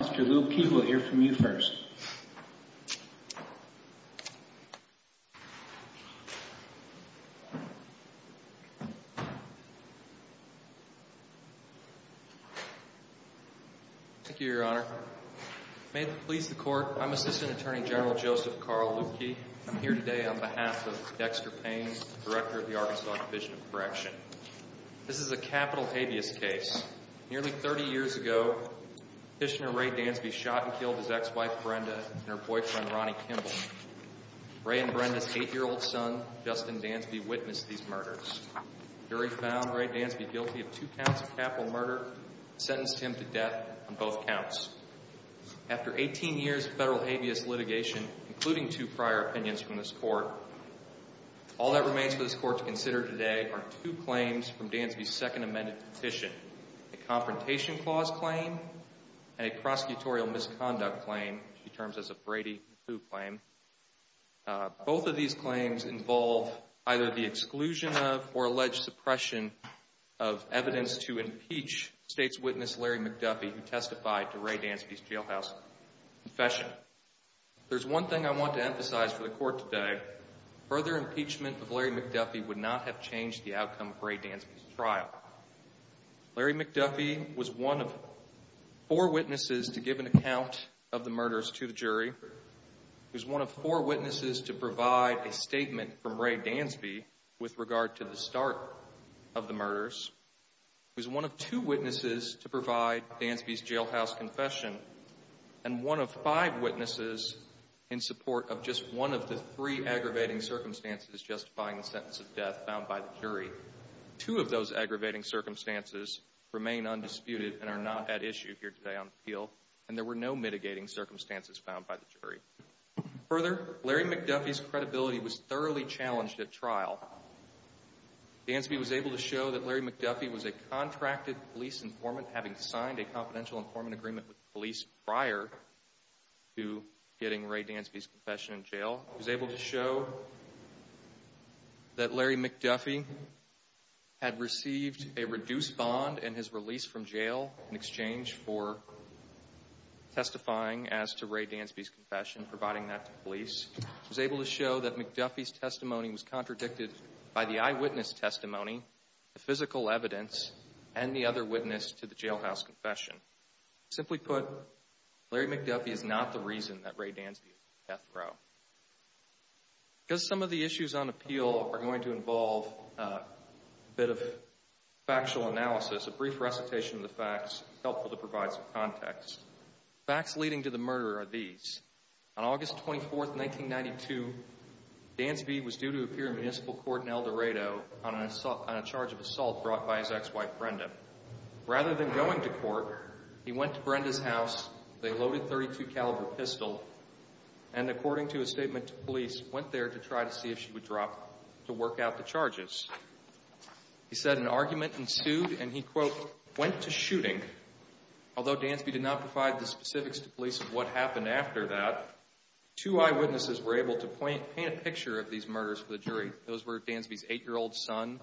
Mr. Luebke, we'll hear from you first. Thank you, Your Honor. May it please the Court, I'm Assistant Attorney General Joseph Carl Luebke. I'm here today on behalf of Dexter Payne, Director of the Arkansas Division of Correction. This is a capital habeas case. Nearly thirty years ago, Petitioner Ray Dansby shot and killed his ex-wife, Brenda, and her boyfriend, Ronnie Kimball. Ray and Brenda's eight-year-old son, Justin Dansby, witnessed these murders. The jury found Ray Dansby guilty of two counts of capital murder, sentenced him to death on both counts. After eighteen years of federal habeas litigation, including two prior opinions from this Court, all that remains for this Court to consider today are two claims from Dansby's second amended petition. A Confrontation Clause Claim, and a Prosecutorial Misconduct Claim, which he terms as a Brady Who Claim. Both of these claims involve either the exclusion of or alleged suppression of evidence to impeach State's witness, Larry McDuffie, who testified to Ray Dansby's jailhouse confession. There's one thing I want to emphasize for the Court today. Further impeachment of Larry McDuffie would not have changed the outcome of Ray Dansby's trial. Larry McDuffie was one of four witnesses to give an account of the murders to the jury. He was one of four witnesses to provide a statement from Ray Dansby with regard to the start of the murders. He was one of two witnesses to provide Dansby's jailhouse confession, and one of five witnesses in support of just one of the three aggravating circumstances justifying the sentence of death found by the jury. Two of those aggravating circumstances remain undisputed and are not at issue here today on the field, and there were no mitigating circumstances found by the jury. Further, Larry McDuffie's credibility was thoroughly challenged at trial. Dansby was able to show that Larry McDuffie was a contracted police informant, having signed a confidential informant agreement with the police prior to getting Ray Dansby's testimony. He was able to show that Larry McDuffie had received a reduced bond in his release from jail in exchange for testifying as to Ray Dansby's confession, providing that to police. He was able to show that McDuffie's testimony was contradicted by the eyewitness testimony, the physical evidence, and the other witness to the jailhouse confession. Simply put, Larry McDuffie is not the reason that Ray Dansby is on the death row. Because some of the issues on appeal are going to involve a bit of factual analysis, a brief recitation of the facts helpful to provide some context. Facts leading to the murder are these. On August 24, 1992, Dansby was due to appear in municipal court in El Dorado on a charge of assault brought by his ex-wife Brenda. Rather than going to court, he went to court. According to a statement to police, he went there to try to see if she would drop to work out the charges. He said an argument ensued and he, quote, went to shooting. Although Dansby did not provide the specifics to police of what happened after that, two eyewitnesses were able to paint a picture of these murders for the jury. Those were Dansby's eight-year-old son,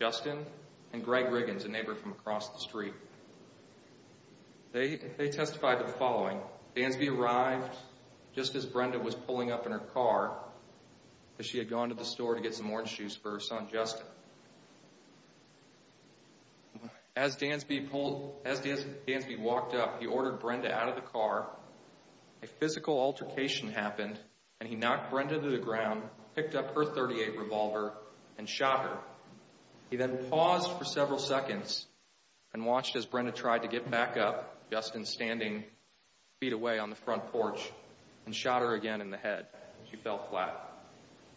Justin, and Greg Riggins, a neighbor from across the street. They testified to the following. Dansby arrived just as Brenda was pulling up in her car as she had gone to the store to get some orange juice for her son, Justin. As Dansby walked up, he ordered Brenda out of the car. A physical altercation happened and he knocked Brenda to the ground, picked up her .38 revolver, and shot her. He then paused for several seconds and watched as Brenda tried to get back up, Justin standing feet away on the front porch, and shot her again in the head. She fell flat.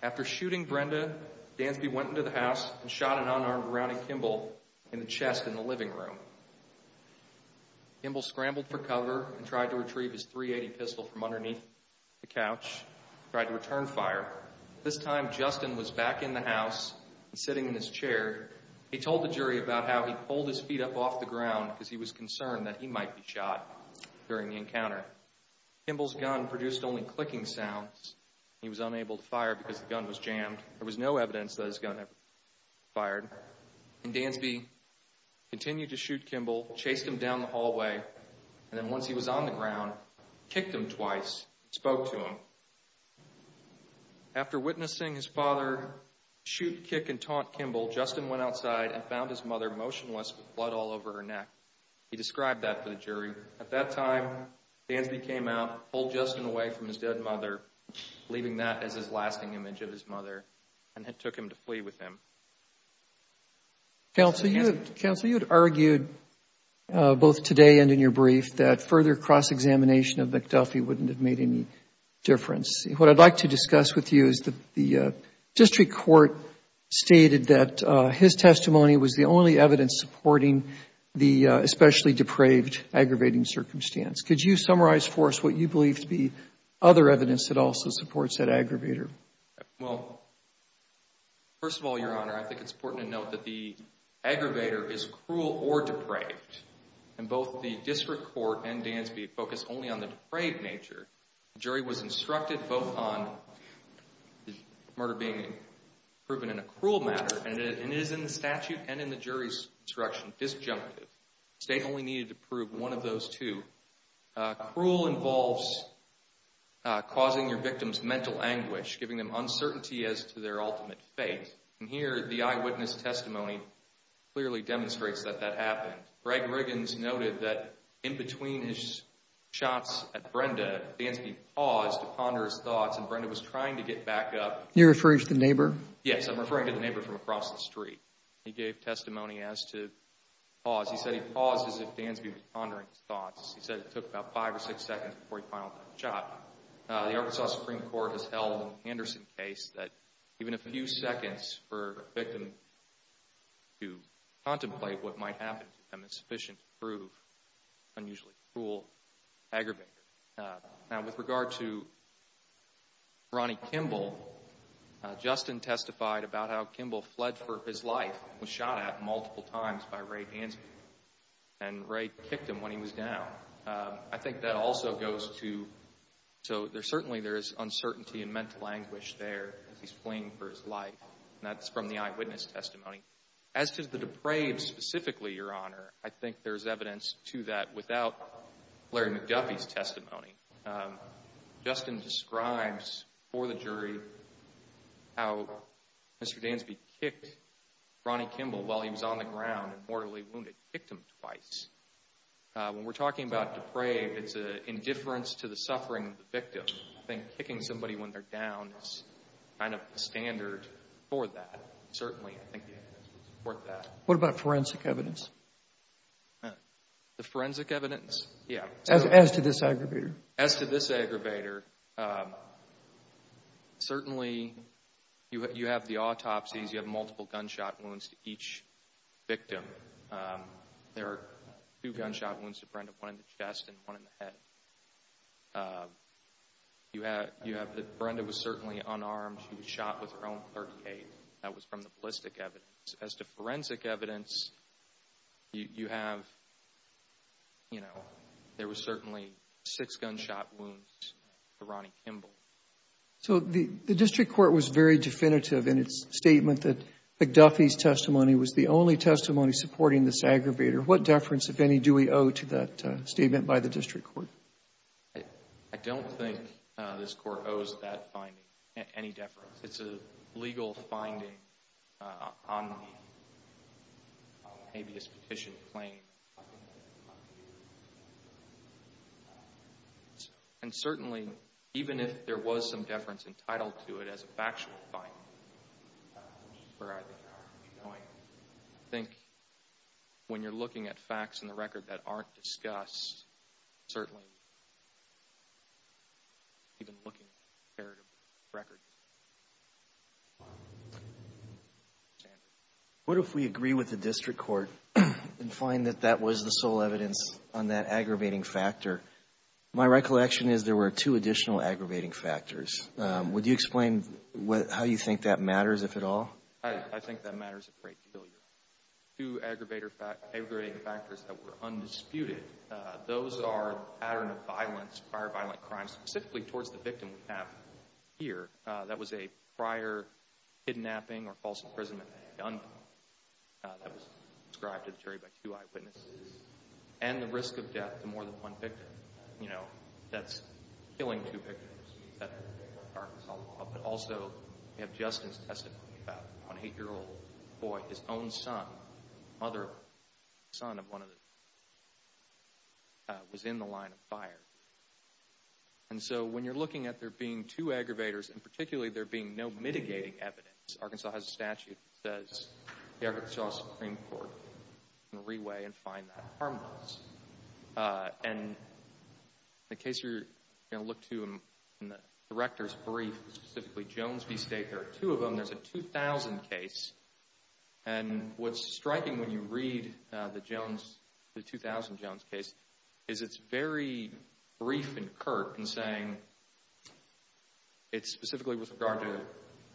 After shooting Brenda, Dansby went into the house and shot an unarmed rowdy Kimball in the chest in the living room. Kimball scrambled for cover and tried to retrieve his .380 pistol from underneath the couch. He tried to return fire. This time, Justin was back in the house and sitting in his seat. He pulled his feet up off the ground because he was concerned that he might be shot during the encounter. Kimball's gun produced only clicking sounds. He was unable to fire because the gun was jammed. There was no evidence that his gun ever fired. Dansby continued to shoot Kimball, chased him down the hallway, and then once he was on the ground, kicked him twice, spoke to him. After witnessing his father shoot, kick, and taunt Kimball, Justin went outside and motionless with blood all over her neck. He described that to the jury. At that time, Dansby came out, pulled Justin away from his dead mother, leaving that as his lasting image of his mother, and took him to flee with him. Counsel, you had argued both today and in your brief that further cross-examination of McDuffie wouldn't have made any difference. What I'd like to discuss with you is the district court stated that his testimony was the only evidence supporting the especially depraved aggravating circumstance. Could you summarize for us what you believe to be other evidence that also supports that aggravator? Well, first of all, Your Honor, I think it's important to note that the aggravator is cruel or depraved, and both the district court and Dansby focused only on the depraved nature. The jury was instructed both on the murder being proven in a cruel manner, and it is in the statute and in the jury's instruction disjunctive. The state only needed to prove one of those two. Cruel involves causing your victim's mental anguish, giving them uncertainty as to their ultimate fate. And here, the eyewitness testimony clearly demonstrates that that happened. Greg Shots at Brenda, Dansby paused to ponder his thoughts, and Brenda was trying to get back up. You're referring to the neighbor? Yes, I'm referring to the neighbor from across the street. He gave testimony as to pause. He said he paused as if Dansby was pondering his thoughts. He said it took about five or six seconds before he finalized the shot. The Arkansas Supreme Court has held in the Anderson case that even a few seconds for a victim to contemplate what might happen to them is sufficient to prove unusually cruel aggravation. Now, with regard to Ronnie Kimball, Justin testified about how Kimball fled for his life and was shot at multiple times by Ray Dansby, and Ray kicked him when he was down. I think that also goes to, so certainly there is uncertainty and mental anguish there as he's fleeing for his life, and that's from the eyewitness testimony. As to the depraved specifically, Your Honor, I think there's evidence to that without Larry McDuffie's testimony. Justin describes for the jury how Mr. Dansby kicked Ronnie Kimball while he was on the ground and mortally wounded, kicked him twice. When we're talking about depraved, it's an indifference to suffering of the victim. I think kicking somebody when they're down is kind of the standard for that. Certainly, I think the evidence would support that. What about forensic evidence? The forensic evidence? Yeah. As to this aggravator? As to this aggravator, certainly you have the autopsies, you have multiple gunshot wounds to each victim. There are two gunshot wounds to Brenda, one in the chest and one in the head. Brenda was certainly unarmed. She was shot with her own .38. That was from the ballistic evidence. As to forensic evidence, you have, you know, there were certainly six gunshot wounds to Ronnie Kimball. So the district court was very definitive in its statement that McDuffie's testimony was the only testimony supporting this aggravator. What deference, if any, do we owe to that statement by the district court? I don't think this Court owes that finding any deference. It's a legal finding on the habeas petition claim. And certainly, even if there was some deference entitled to it as a factual finding, where are they going? I think when you're looking at facts in the record that aren't discussed, certainly even looking at a comparative record. What if we agree with the district court and find that that was the sole evidence on that aggravating factor? My recollection is there were two additional aggravating factors. Would you explain how you think that matters, if at all? I think that matters a great deal. Two aggravating factors that were undisputed, those are the pattern of violence, prior violent crimes, specifically towards the victim we have here. That was a prior kidnapping or false imprisonment that was described to the jury by two eyewitnesses. And the risk of death to more than one victim, you know, that's killing two victims. But also, we have justice testimony about an eight-year-old boy, his own son, mother of the son of one of the victims, was in the line of fire. And so when you're looking at there being two aggravators, and particularly there being no mitigating evidence, Arkansas has a statute that says the Arkansas Supreme Court can re-weigh and find that harmless. And the case you're going to look to in the director's brief, specifically Jones v. Staker, two of them, there's a 2000 case. And what's striking when you read the Jones, the 2000 Jones case, is it's very brief and curt in saying it's specifically with regard to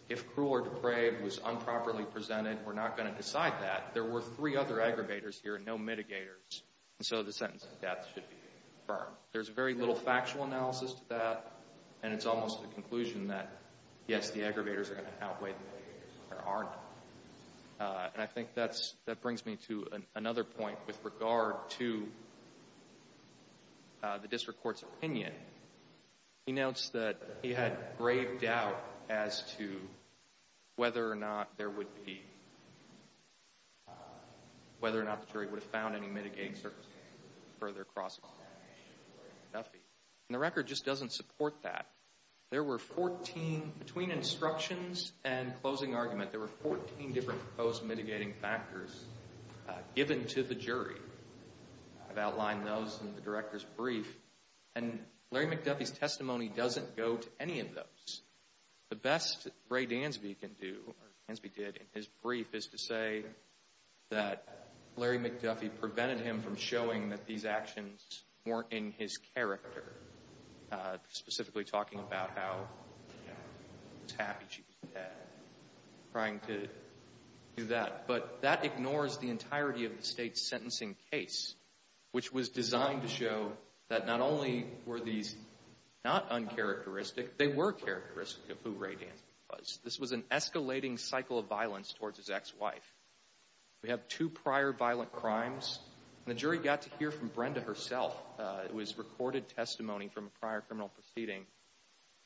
if cruel or depraved was improperly presented, we're not going to decide that. There were three aggravators here and no mitigators, and so the sentence of death should be confirmed. There's very little factual analysis to that, and it's almost a conclusion that, yes, the aggravators are going to outweigh the mitigators, but there aren't. And I think that's, that brings me to another point with regard to the district court's opinion. He notes that he had grave doubt as to whether or not there would be, whether or not the jury would have found any mitigating circumstances further across. And the record just doesn't support that. There were 14, between instructions and closing argument, there were 14 different proposed mitigating factors given to the jury. I've outlined those in the director's brief, and Larry McDuffie's testimony doesn't go to any of those. The best Ray Dansby can do, or Dansby did in his brief, is to say that Larry McDuffie prevented him from showing that these actions weren't in his character, specifically talking about how he was happy she was dead, trying to do that. But that ignores the entirety of the state's sentencing case, which was designed to show that not only were these not uncharacteristic, they were characteristic of who Ray Dansby was. This was an escalating cycle of violence towards his ex-wife. We have two prior violent crimes, and the jury got to hear from Brenda herself. It was recorded testimony from a prior criminal proceeding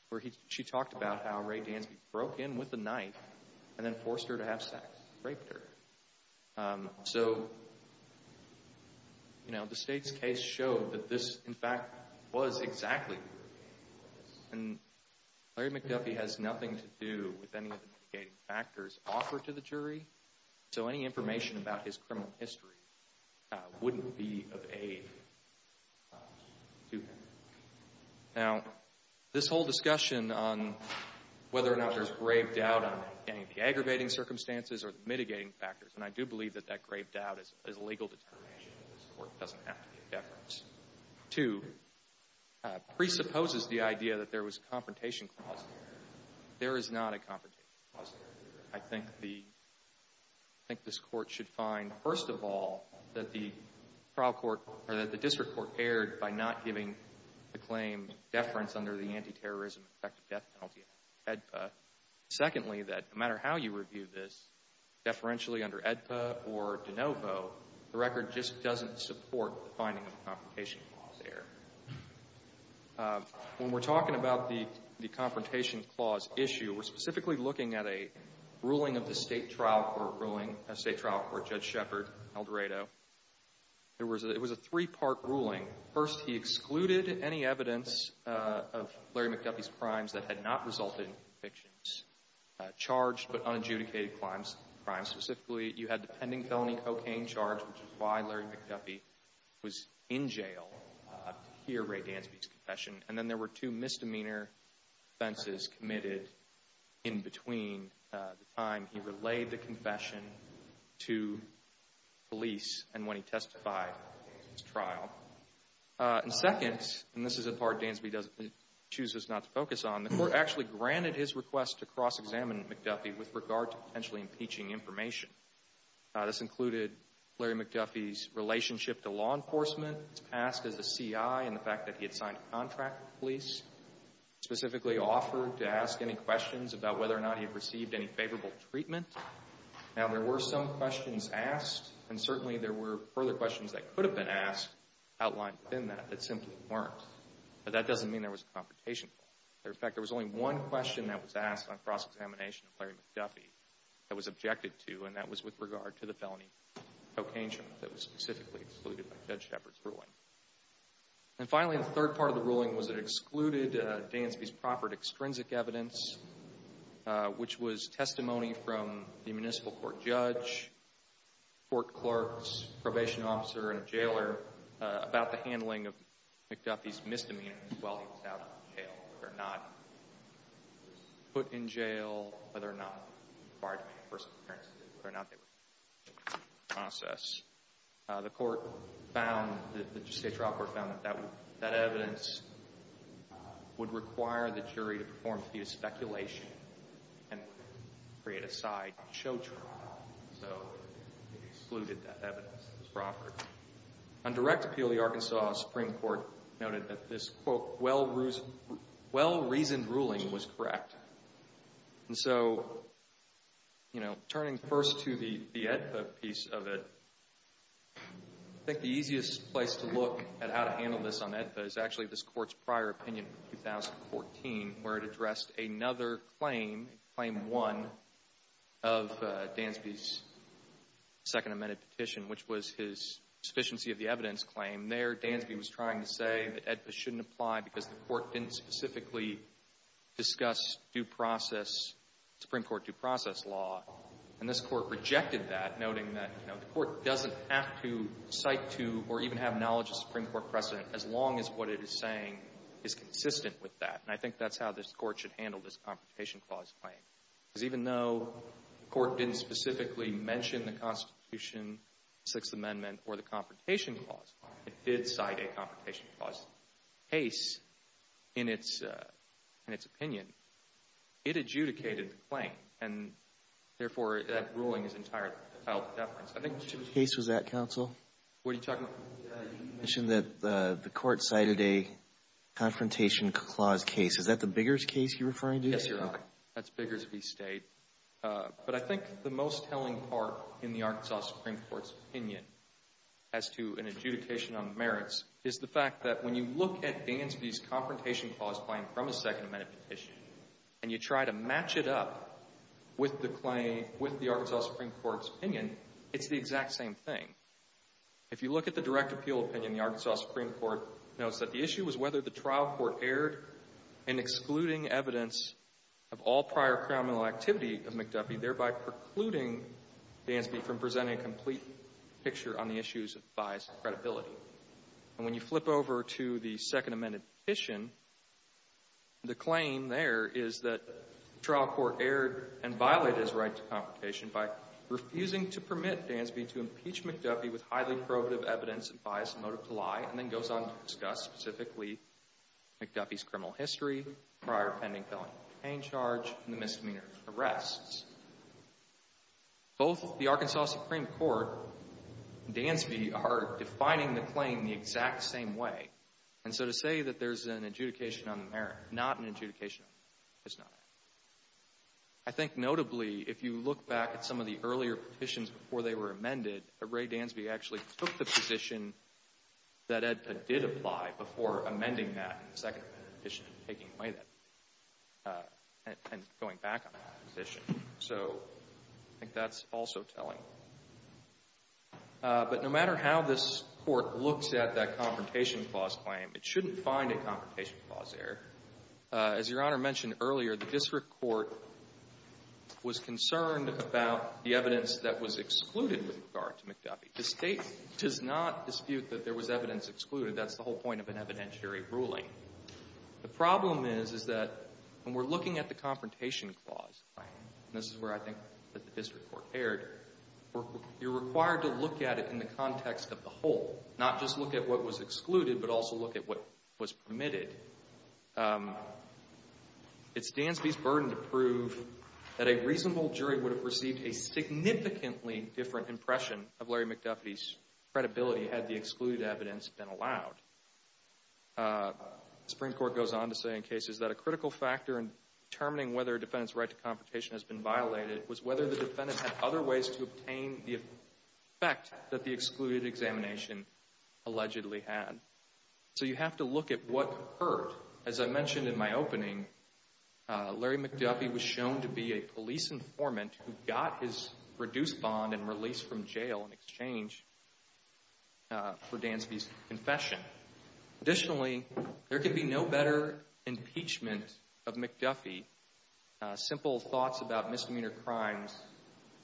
where she talked about how Ray Dansby broke in with a knife and then forced her to have sex, raped her. So, you know, the state's case showed that this, in fact, was exactly what it was. And Larry McDuffie has nothing to do with any of the mitigating factors offered to the jury, so any information about his criminal history wouldn't be of aid to him. Now, this whole discussion on whether or not there's grave doubt on any of the aggravating circumstances or mitigating factors, and I do believe that that grave doubt is a legal determination of this Court. It doesn't have to be a deference. Two, presupposes the idea that there was a confrontation clause there. There is not a confrontation clause there. I think this Court should find, first of all, that the district court erred by not giving the claim deference under the anti-terrorism effective death penalty of HEDPA. Secondly, that no matter how you review this, deferentially under HEDPA or de novo, the record just doesn't support the finding of a confrontation clause there. When we're talking about the confrontation clause issue, we're specifically looking at a ruling of the state trial court ruling, a state trial court, Judge Shepard, Eldorado. It was a three-part ruling. First, he excluded any evidence of Larry McDuffie's crimes that had not resulted in convictions, charged but unadjudicated crimes. Specifically, you had the pending felony cocaine charge, which is why Larry McDuffie was in jail to hear Ray Dansby's confession. And then there were two misdemeanor offenses committed in between the time he relayed the confession to police and when he testified in his trial. And second, and this is a part granted his request to cross-examine McDuffie with regard to potentially impeaching information. This included Larry McDuffie's relationship to law enforcement, his past as a C.I. and the fact that he had signed a contract with police, specifically offered to ask any questions about whether or not he had received any favorable treatment. Now, there were some questions asked, and certainly there were further questions that could have been asked, outlined within that, that simply weren't. But that doesn't mean there was a confrontation clause. In fact, there was only one question that was asked on cross-examination of Larry McDuffie that was objected to, and that was with regard to the felony cocaine charge that was specifically excluded by Judge Shepard's ruling. And finally, the third part of the ruling was it excluded Dansby's proffered extrinsic evidence, which was testimony from the municipal court judge, court clerks, probation officer, and a jailer about the handling of McDuffie's misdemeanors while he was out of jail, whether or not he was put in jail, whether or not he required to make a first appearance, whether or not they were in the process. The court found, the state trial court found that that evidence would require the jury to perform a few speculations and create a side show trial, so it excluded that evidence that was proffered. On direct appeal, the Arkansas Supreme Court noted that this, quote, well-reasoned ruling was correct. And so, you know, turning first to the AEDPA piece of it, I think the easiest place to look at how to handle this on AEDPA is actually this Court's prior opinion in 2014, where it addressed another claim, Claim 1, of Dansby's Second Amended Petition, which was his sufficiency of the precedence claim. There, Dansby was trying to say that AEDPA shouldn't apply because the Court didn't specifically discuss due process, Supreme Court due process law. And this Court rejected that, noting that, you know, the Court doesn't have to cite to or even have knowledge of Supreme Court precedent as long as what it is saying is consistent with that. And I think that's how this Court should handle this Confrontation Clause claim. Because even though the Court didn't mention the Constitution, Sixth Amendment, or the Confrontation Clause, it did cite a Confrontation Clause case in its opinion. It adjudicated the claim. And, therefore, that ruling is entirely without deference. I think it should be true. What case was that, counsel? What are you talking about? The AEDPA case that the Court cited a Confrontation Clause case. Is that the Biggers case you're referring to? Yes, Your Honor. That's Biggers v. State. But I think the most telling part in the Arkansas Supreme Court's opinion as to an adjudication on merits is the fact that when you look at Dansby's Confrontation Clause claim from a Second Amendment petition, and you try to match it up with the Arkansas Supreme Court's opinion, it's the exact same thing. If you look at the direct appeal opinion, the Arkansas Supreme Court notes that the issue was whether the trial court erred in excluding evidence of all prior criminal activity of McDuffie, thereby precluding Dansby from presenting a complete picture on the issues of bias and credibility. And when you flip over to the Second Amendment petition, the claim there is that the trial court erred and violated his right to confrontation by refusing to permit Dansby to impeach McDuffie with highly probative evidence of bias and motive to lie, and then goes on to discuss, specifically, McDuffie's criminal history, prior pending felony complaint charge, and the misdemeanor arrests. Both the Arkansas Supreme Court and Dansby are defining the claim the exact same way. And so to say that there's an adjudication on the merit, not an adjudication on the merit, is not accurate. I think notably, if you look back at some of the earlier petitions before they were amended, Ray Dansby actually took the position that it did apply before amending that in the Second Amendment petition and taking away that, and going back on that position. So I think that's also telling. But no matter how this Court looks at that confrontation clause claim, it shouldn't find a confrontation clause error. As Your Honor mentioned earlier, the district court was concerned about the evidence that was excluded with regard to McDuffie. The State does not dispute that there was evidence excluded. That's the whole point of an evidentiary ruling. The problem is, is that when we're looking at the confrontation clause, and this is where I think that the district court erred, you're required to look at it in the context of the whole, not just look at what was excluded, but also look at what was permitted. It's Dansby's burden to prove that a reasonable jury would have received a significantly different impression of Larry McDuffie's credibility had the excluded evidence been allowed. The Supreme Court goes on to say in cases that a critical factor in determining whether a defendant's right to confrontation has been violated was whether the defendant had other ways to obtain the effect that the excluded examination allegedly had. So you have to look at what occurred. As I mentioned in my opening, Larry McDuffie was shown to be a police informant who got his reduced bond and release from jail in exchange for Dansby's confession. Additionally, there can be no better impeachment of McDuffie. Simple thoughts about misdemeanor crimes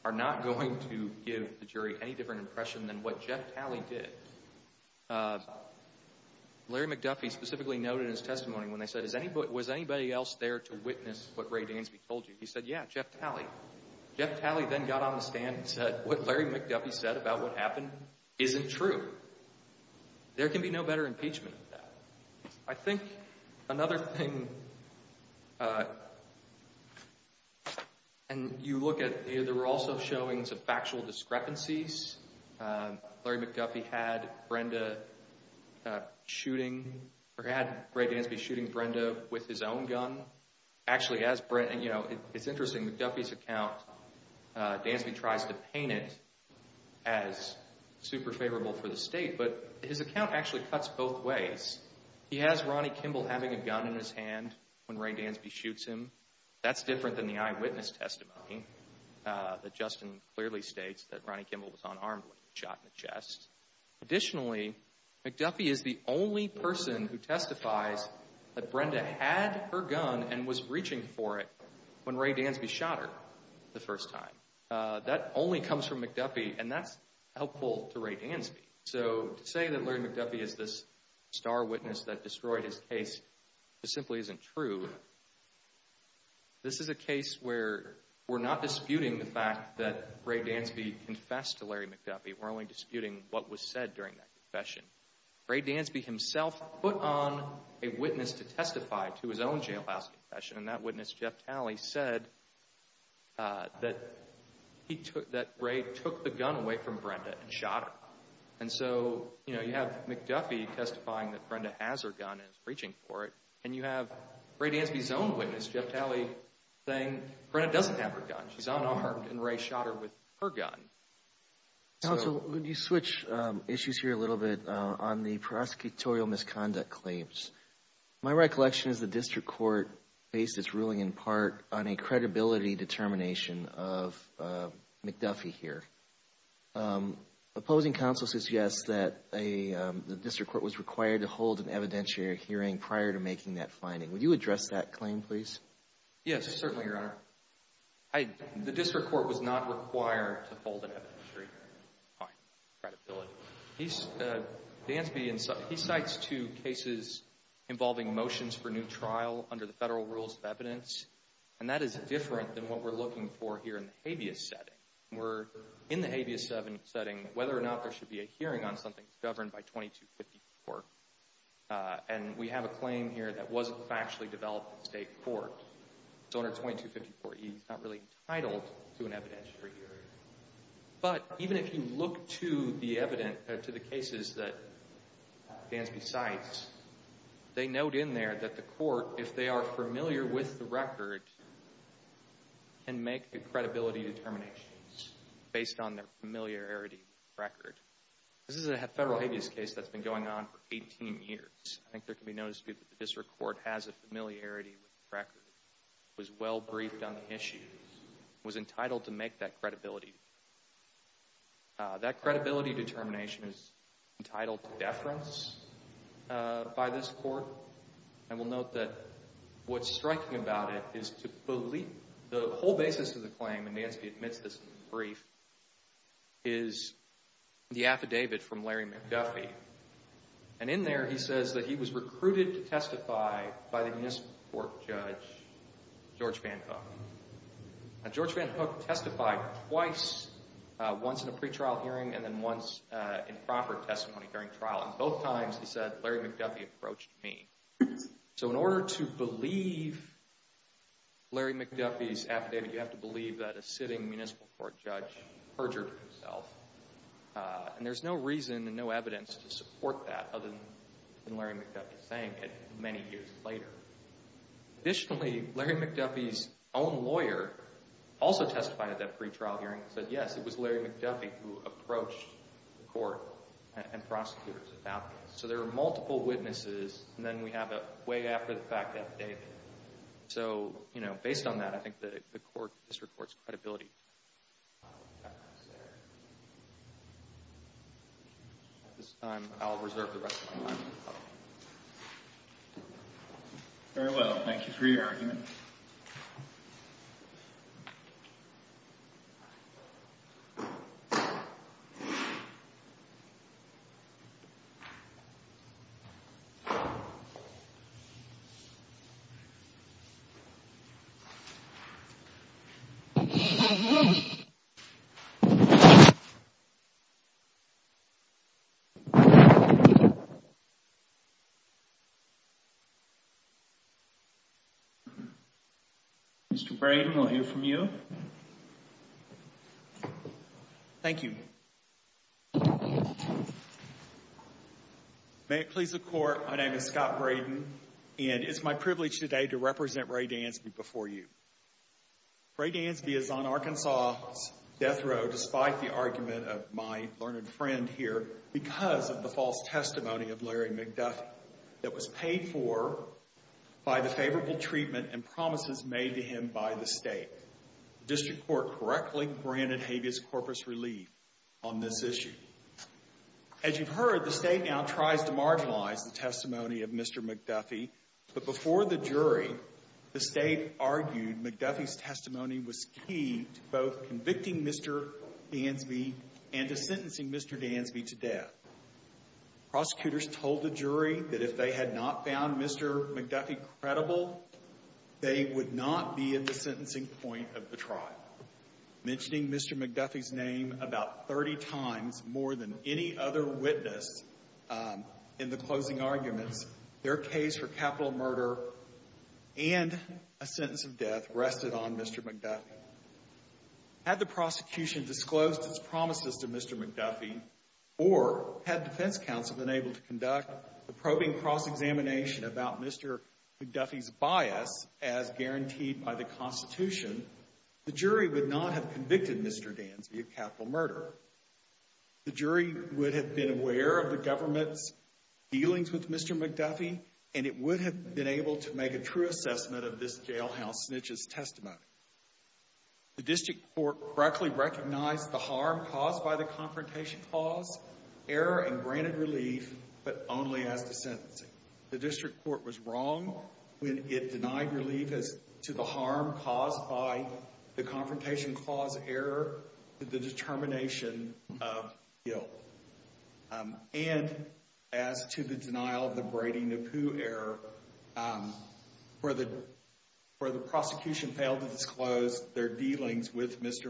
are not going to give the jury any different impression than what Jeff Talley did. Larry McDuffie specifically noted in his testimony when they said, was anybody else there to witness what Ray Dansby told you? He said, yeah, Jeff Talley. Jeff Talley then got on the stand and said, what Larry McDuffie said about what happened isn't true. There can be no better impeachment of that. I think another thing, and you look at, there were also showings of factual discrepancies. Larry McDuffie had Ray Dansby shooting Brenda with his own gun. Actually, it's interesting, McDuffie's account, Dansby tries to paint it as super favorable for the state, but his account actually cuts both that's different than the eyewitness testimony that Justin clearly states that Ronnie Kimball was unarmed when he was shot in the chest. Additionally, McDuffie is the only person who testifies that Brenda had her gun and was reaching for it when Ray Dansby shot her the first time. That only comes from McDuffie and that's helpful to Ray Dansby. So to say that this is a case where we're not disputing the fact that Ray Dansby confessed to Larry McDuffie, we're only disputing what was said during that confession. Ray Dansby himself put on a witness to testify to his own jailhouse confession and that witness, Jeff Talley, said that Ray took the gun away from Brenda and shot her. And so, you know, you have McDuffie testifying that Brenda has her gun and is reaching for it and you have Ray Dansby's own witness, Jeff Talley, saying Brenda doesn't have her gun. She's unarmed and Ray shot her with her gun. Counsel, could you switch issues here a little bit on the prosecutorial misconduct claims? My recollection is the district court based its ruling in part on a credibility determination of an evidentiary hearing prior to making that finding. Would you address that claim, please? Yes, certainly, Your Honor. The district court was not required to hold an evidentiary credibility. Dansby, he cites two cases involving motions for new trial under the federal rules of evidence and that is different than what we're looking for here in the habeas setting. We're in the habeas setting, whether or not there should be a hearing on something governed by 2254. And we have a claim here that wasn't factually developed in state court. It's under 2254E. It's not really entitled to an evidentiary hearing. But even if you look to the evidence, to the cases that Dansby cites, they note in there that the court, if they are familiar with the record, can make a credibility determination based on their familiarity with the record. This is a federal habeas case that's been going on for 18 years. I think there can be no dispute that the district court has a familiarity with the record. It was well briefed on the issue. It was entitled to make that credibility determination. That credibility determination is entitled to deference by this court. I will note that what's striking about it is to believe the whole basis of the affidavit. Larry McDuffie. And in there, he says that he was recruited to testify by the municipal court judge, George Van Hook. George Van Hook testified twice, once in a pretrial hearing and then once in proper testimony during trial. And both times, he said, Larry McDuffie approached me. So in order to believe Larry McDuffie's affidavit, you have to believe that a sitting municipal court judge perjured himself. And there's no reason and no evidence to support that other than Larry McDuffie saying it many years later. Additionally, Larry McDuffie's own lawyer also testified at that pretrial hearing and said, yes, it was Larry McDuffie who approached the court and prosecutors about this. So there are multiple witnesses and then we have a way after the fact affidavit. So, you know, based on that, I think that the court, the district court's credibility. At this time, I'll reserve the rest of my time. Very well. Thank you for your argument. Mr. Braden, we'll hear from you. Thank you. Thank you. May it please the court, my name is Scott Braden and it's my privilege today to represent Ray Dansby before you. Ray Dansby is on Arkansas' death row despite the argument of my learned friend here because of the false testimony of Larry McDuffie that was paid for by the favorable treatment and promises made to him by the state. The district court correctly granted habeas corpus relief on this issue. As you've heard, the state now tries to marginalize the testimony of Mr. McDuffie. But before the jury, the state argued McDuffie's testimony was key to both convicting Mr. Dansby and to sentencing Mr. Dansby to death. Prosecutors told the jury that if they had not found Mr. McDuffie credible, they would not be at the sentencing point of the trial. Mentioning Mr. McDuffie's name about 30 times more than any other witness in the closing arguments, their case for capital murder and a sentence of death rested on Mr. McDuffie. Had the prosecution disclosed its promises to Mr. McDuffie or had defense counsel been able to conduct a probing cross-examination about Mr. McDuffie's bias as guaranteed by the Constitution, the jury would not have convicted Mr. Dansby of capital murder. The jury would have been aware of the government's dealings with Mr. McDuffie and it would have been able to make a true assessment of this jailhouse snitch's testimony. The district court correctly recognized the harm caused by the confrontation clause, error, and granted relief but only as to sentencing. The district court was wrong when it denied relief as to the harm caused by the confrontation clause error to the determination of guilt and as to the denial of the Brady-Napoo error where the prosecution failed to disclose their dealings with Mr. McDuffie.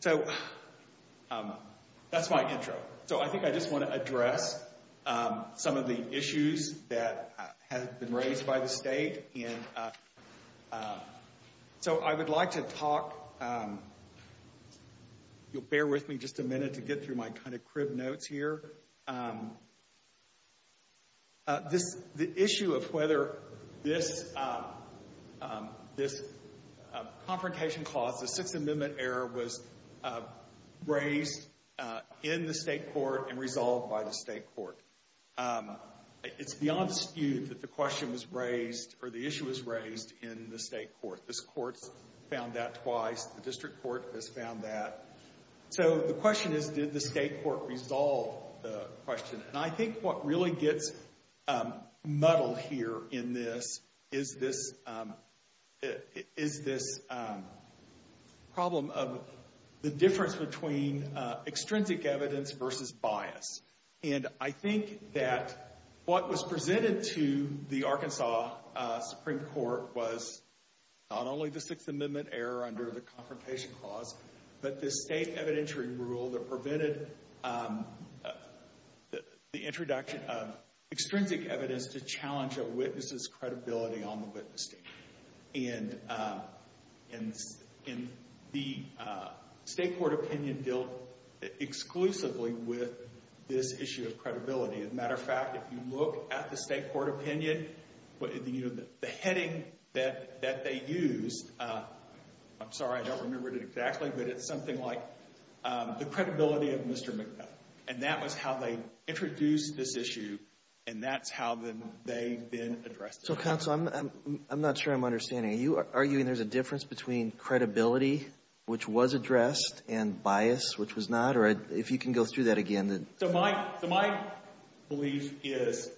So that's my intro. So I think I just want to address some of the issues that have been raised by the state and so I would like to talk, you'll bear with me just a minute to get through my kind of notes here. The issue of whether this confrontation clause, the Sixth Amendment error, was raised in the state court and resolved by the state court. It's beyond dispute that the question was raised or the issue was raised in the state court. This court found that twice, the district court has found that. So the question is, did the state court resolve the question? And I think what really gets muddled here in this is this problem of the difference between extrinsic evidence versus bias. And I think that what was presented to the Arkansas Supreme Court was not only the Sixth Amendment error under the confrontation clause, but the state evidentiary rule that prevented the introduction of extrinsic evidence to challenge a witness's credibility on the witness stand. And the state court opinion dealt exclusively with this issue of credibility. As a matter of fact, if you look at the state court opinion, you know, the heading that they used, I'm sorry, I don't remember it exactly, but it's something like the credibility of Mr. McNutt. And that was how they introduced this issue and that's how then they've been addressed. So counsel, I'm not sure I'm understanding. Are you arguing there's a difference between credibility, which was addressed, and bias, which was not? Or if you can go through that again. So my belief is,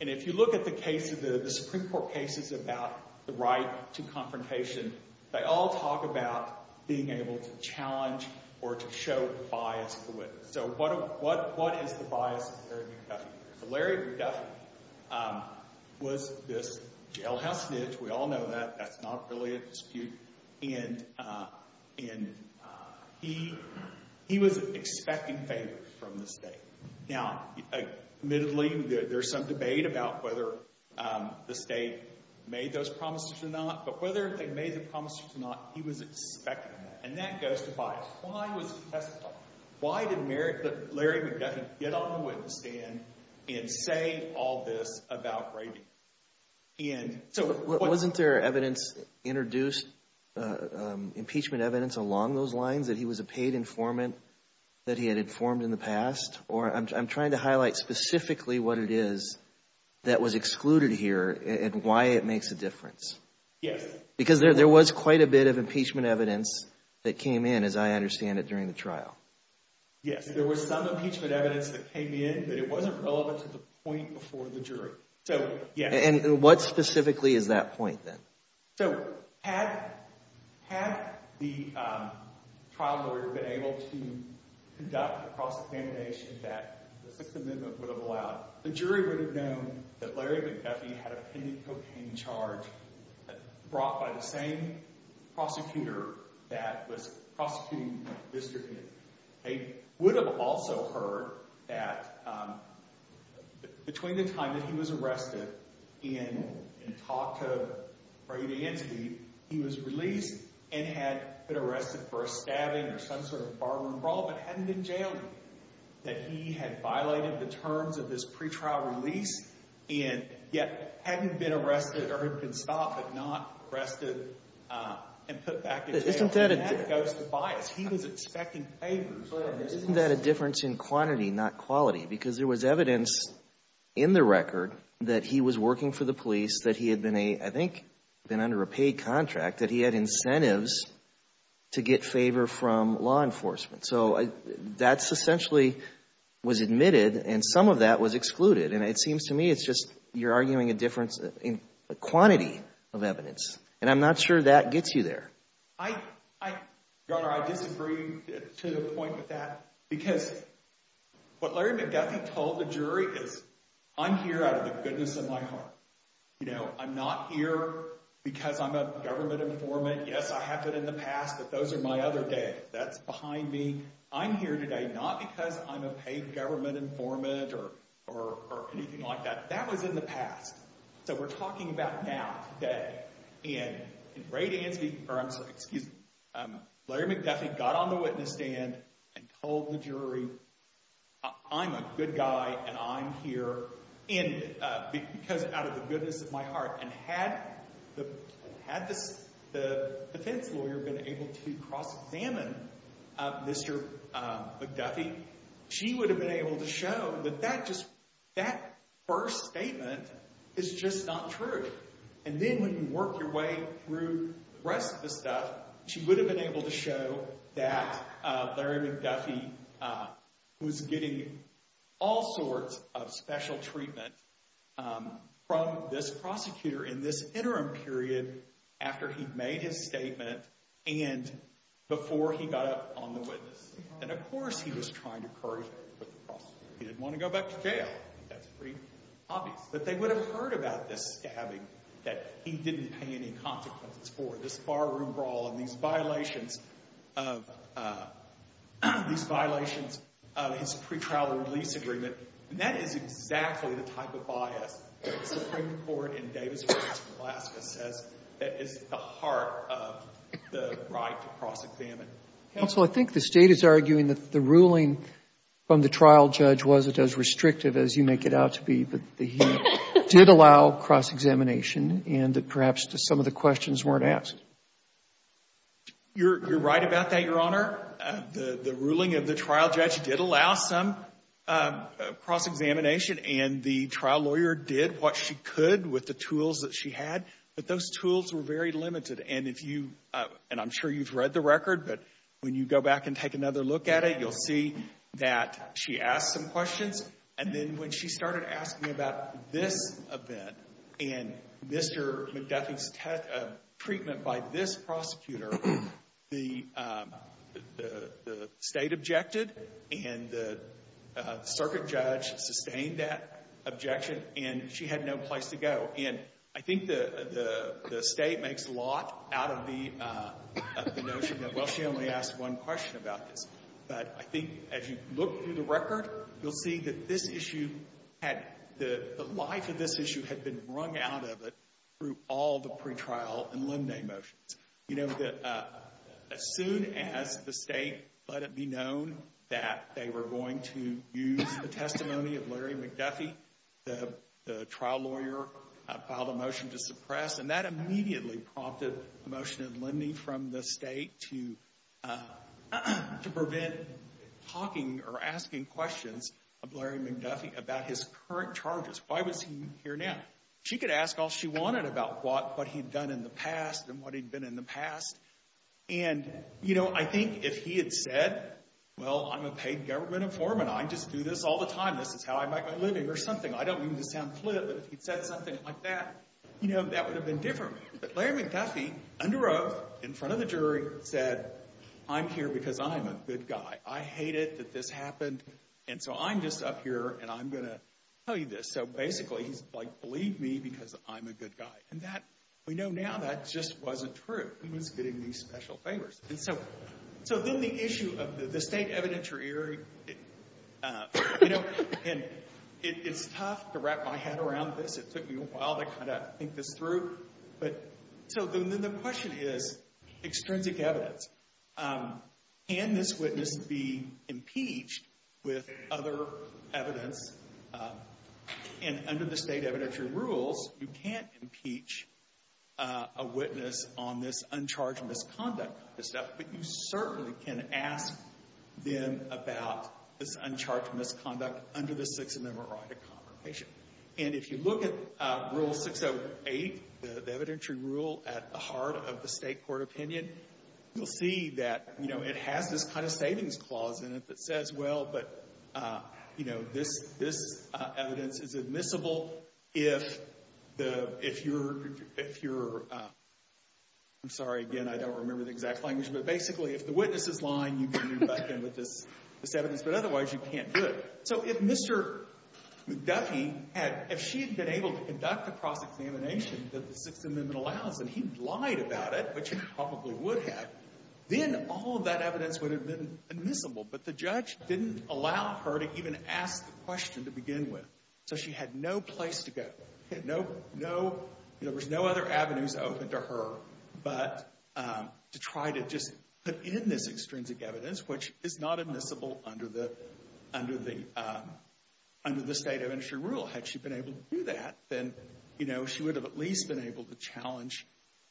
and if you look at the case of the Supreme Court cases about the right to confrontation, they all talk about being able to challenge or to show bias to a witness. So what is the bias of Larry McDuffie? Larry McDuffie was this jailhouse snitch, we all know that. That's not really a dispute. And he was expecting favors from the state. Now, admittedly, there's some debate about whether the state made those promises or not, but whether they made the promises or not, he was expecting that. And that goes to bias. Why was he testifying? Why did Larry McDuffie get on the witness stand and say all this about raving? And so wasn't there evidence introduced, impeachment evidence along those lines, that he was a paid informant, that he had informed in the past? Or I'm trying to highlight specifically what it is that was excluded here and why it makes a difference. Yes. Because there was quite a bit of impeachment evidence that came in, as I understand it, during the trial. Yes, there was some impeachment evidence that came in, but it wasn't relevant to the point before the jury. And what specifically is that point then? So had the trial lawyer been able to conduct a cross-examination that the Sixth Amendment would have allowed, the jury would have known that Larry McDuffie had a pending cocaine charge brought by the same prosecutor that was prosecuting Mr. Hill. They would have also heard that between the time that he was arrested and talked to Brady Ansby, he was released and had been arrested for a stabbing or some sort of barroom brawl, but hadn't been jailed. That he had violated the terms of this pretrial release and yet hadn't been arrested or had been stopped, but not arrested and put back in jail. Isn't that a difference in quantity, not quality? Because there was evidence in the record that he was working for the police, that he had been a, I think, been under a paid contract, that he had incentives to get favor from law enforcement. So that's essentially was admitted and some of that was excluded. And it seems to me it's just you're arguing a difference in quantity of evidence. And I'm not sure that gets you there. I disagree to the point with that because what Larry McDuffie told the jury is, I'm here out of the goodness of my heart. I'm not here because I'm a government informant. Yes, I have been in the past, but those are my other day. That's behind me. I'm here today, not because I'm a paid government informant or anything like that. That was in the past. So we're talking about today. And Ray Dansby, or I'm sorry, excuse me, Larry McDuffie got on the witness stand and told the jury, I'm a good guy and I'm here because out of the goodness of my heart. And had the defense lawyer been able to cross-examine Mr. McDuffie, she would have been able to show that that first statement is just not true. And then when you work your way through the rest of the stuff, she would have been able to show that Larry McDuffie was getting all sorts of special treatment from this prosecutor in this interim period after he made his statement and before he got up on the witness. And of course, he was trying to curry favor with the prosecutor. He didn't want to go back to jail. That's pretty obvious. But they would have heard about this stabbing that he didn't pay any consequences for, this bar room brawl and these violations of his pre-trial release agreement. And that is exactly the type of bias that the Supreme Court in Davis v. Alaska says is at the heart of the right to cross-examine. Counsel, I think the State is arguing that the ruling from the trial judge wasn't as restrictive as you make it out to be, that he did allow cross-examination and that perhaps some of the questions weren't asked. You're right about that, Your Honor. The ruling of the trial judge did allow some cross-examination and the trial lawyer did what she could with the tools that she had, but those tools were very limited. And if you, and I'm sure you've read the record, but when you go back and take another look at it, you'll see that she asked some questions. And then when she started asking about this event and Mr. McDuffie's treatment by this and the circuit judge sustained that objection and she had no place to go. And I think the State makes a lot out of the notion that, well, she only asked one question about this. But I think as you look through the record, you'll see that this issue had, the life of this issue had been wrung out of it through all the pretrial and limine motions. You know, as soon as the State let it be known that they were going to use the testimony of Larry McDuffie, the trial lawyer filed a motion to suppress and that immediately prompted a motion of lending from the State to prevent talking or asking questions of Larry McDuffie about his current charges. Why was he here now? She could ask all she wanted about what he'd done in the past and what he'd been in the past. And, you know, I think if he had said, well, I'm a paid government informant. I just do this all the time. This is how I make my living or something. I don't mean to sound flip, but if he'd said something like that, you know, that would have been different. But Larry McDuffie, under oath, in front of the jury, said, I'm here because I'm a good guy. I hate it that this happened. And so I'm just up here and I'm going to tell you this. So basically he's like, believe me, because I'm a good guy. And that we know now that just wasn't true. He was getting these special favors. And so then the issue of the state evidentiary, you know, and it's tough to wrap my head around this. It took me a while to kind of think this through. But so then the question is, extrinsic evidence. Can this witness be impeached with other evidence? And under the state evidentiary rules, you can't impeach a witness on this uncharged misconduct. But you certainly can ask them about this uncharged misconduct under the Sixth Amendment right of confirmation. And if you look at Rule 608, the evidentiary rule at the heart of the state court opinion, you'll see that, you know, it has this kind of savings clause in it that says, well, but, you know, this evidence is admissible if you're, I'm sorry, again, I don't remember the exact language. But basically, if the witness is lying, you can do nothing with this evidence. But otherwise, you can't do it. So if Mr. McDuffie had, if she had been able to conduct the cross-examination that the Sixth Amendment allows, and he lied about it, which he probably would have, then all of that evidence would have been admissible. But the judge didn't allow her to even ask the question to begin with. So she had no place to go. Had no, no, you know, there's no other avenues open to her but to try to just put in this extrinsic evidence, which is not admissible under the, under the, under the state evidentiary rule. Had she been able to do that, then, you know, she would have at least been able to challenge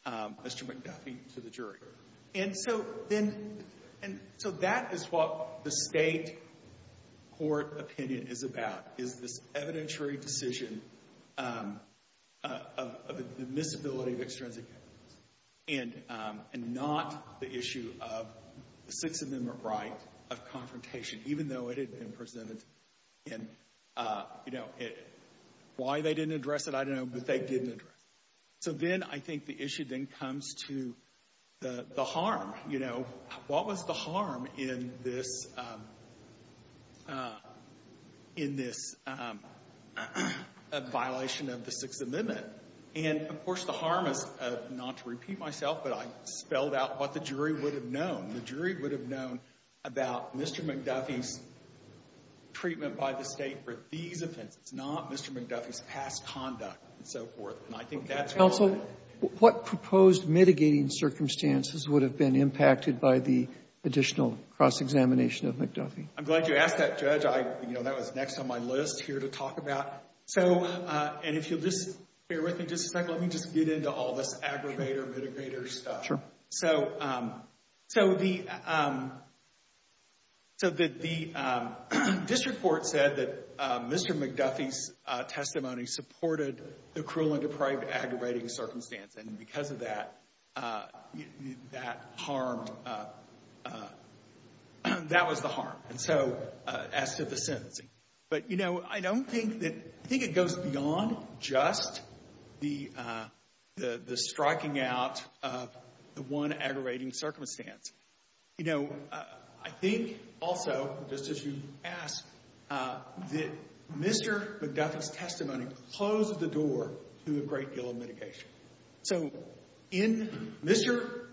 Mr. McDuffie to the jury. And so then, and so that is what the State court opinion is about, is this evidentiary decision of admissibility of extrinsic evidence, and not the issue of the Sixth Amendment right of confrontation, even though it had been presented in, you know, why they didn't address it. I don't know, but they didn't address it. So then I think the issue then comes to the harm, you know. What was the harm in this, in this violation of the Sixth Amendment? And, of course, the harm is, not to repeat myself, but I spelled out what the jury would have known. The jury would have known about Mr. McDuffie's treatment by the State for these offenses, not Mr. McDuffie's past conduct, and so forth. And I think that's why. Robertson, what proposed mitigating circumstances would have been impacted by the additional cross-examination of McDuffie? I'm glad you asked that, Judge. I, you know, that was next on my list here to talk about. So, and if you'll just bear with me just a second, let me just get into all this aggravator, mitigator stuff. Sure. So, so the, so the District Court said that Mr. McDuffie's testimony supported the cruel and deprived aggravating circumstance, and because of that, that harmed, that was the harm. And so, as to the sentencing. But, you know, I don't think that, I think it was a one aggravating circumstance. You know, I think, also, just as you asked, that Mr. McDuffie's testimony closed the door to a great deal of mitigation. So in Mr.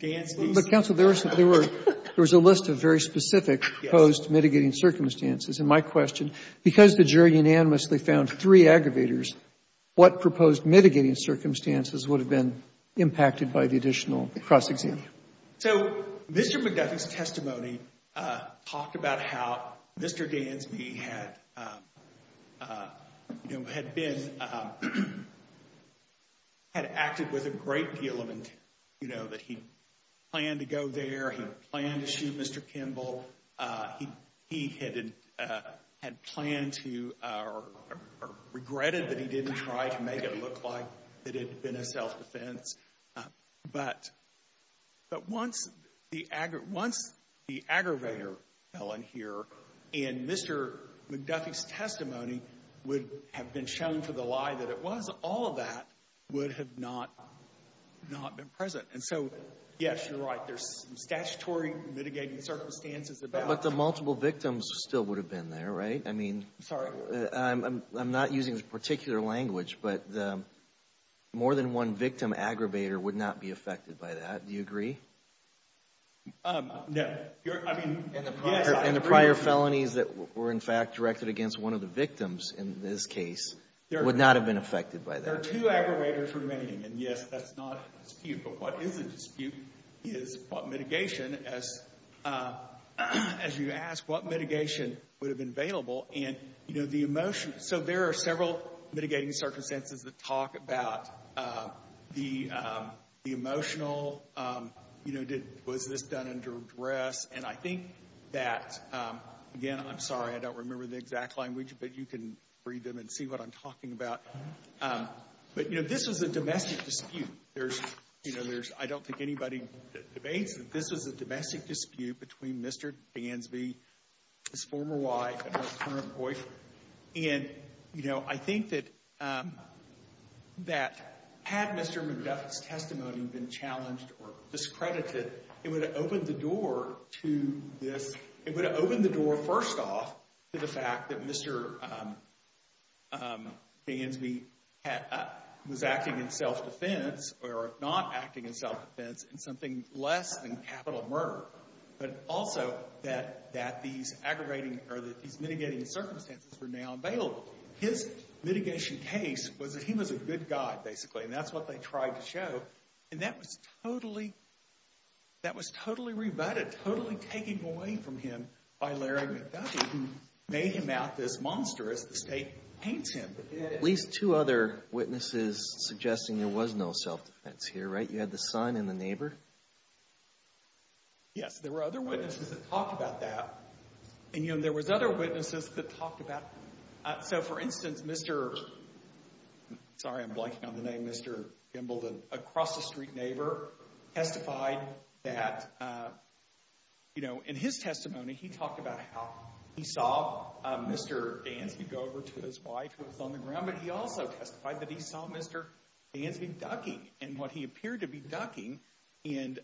Gansky's testimony. But, counsel, there were, there was a list of very specific proposed mitigating circumstances. Yes. And my question, because the jury unanimously found three aggravators, what proposed mitigating circumstances would have been impacted by the additional cross-examination? So Mr. McDuffie's testimony talked about how Mr. Gansky had, you know, had been, had acted with a great deal of intent. You know, that he planned to go there. He planned to shoot Mr. Kimball. He, he had, had planned to, or regretted that he didn't try to make it look like it had been a self-defense. But, but once the aggravator fell in here, and Mr. McDuffie's testimony would have been shown for the lie that it was, all of that would have not, not been present. And so, yes, you're right. There's some statutory mitigating circumstances about. But the multiple victims still would have been there, right? I mean. Sorry. I'm not using this particular language, but more than one victim aggravator would not be affected by that. Do you agree? No. I mean, yes. And the prior felonies that were, in fact, directed against one of the victims in this case would not have been affected by that. There are two aggravators remaining. And yes, that's not a dispute. But what is a dispute is what mitigation, as, as you asked, what mitigation would have been available. And, you know, the emotion, so there are several mitigating circumstances that talk about the, the emotional, you know, was this done under duress? And I think that, again, I'm sorry, I don't remember the exact language, but you can read them and see what I'm talking about. But, you know, this was a domestic dispute. There's, you know, there's, I don't think anybody debates that this was a domestic dispute between Mr. Dansby, his former wife, and her current boyfriend. And, you know, I think that, that had Mr. McDuffie's testimony been challenged or discredited, it would have opened the door to this, it would have opened the door, first off, to the fact that Mr. Dansby had, was acting in self-defense or not acting in self-defense in something less than capital murder. But also that, that these aggravating, or that these mitigating circumstances were now available. His mitigation case was that he was a good guy, basically, and that's what they tried to show. And that was totally, that was totally rebutted, totally taken away from him by Larry McDuffie, who made him out this monster as the state paints him. At least two other witnesses suggesting there was no self-defense here, right? You had the There were other witnesses that talked about that. And, you know, there was other witnesses that talked about, so for instance, Mr., sorry, I'm blanking on the name, Mr. Gimbledon, across the street neighbor, testified that, you know, in his testimony, he talked about how he saw Mr. Dansby go over to his wife who was on the ground, but he also testified that he saw Mr. Dansby ducking, and what he appeared to be ducking, and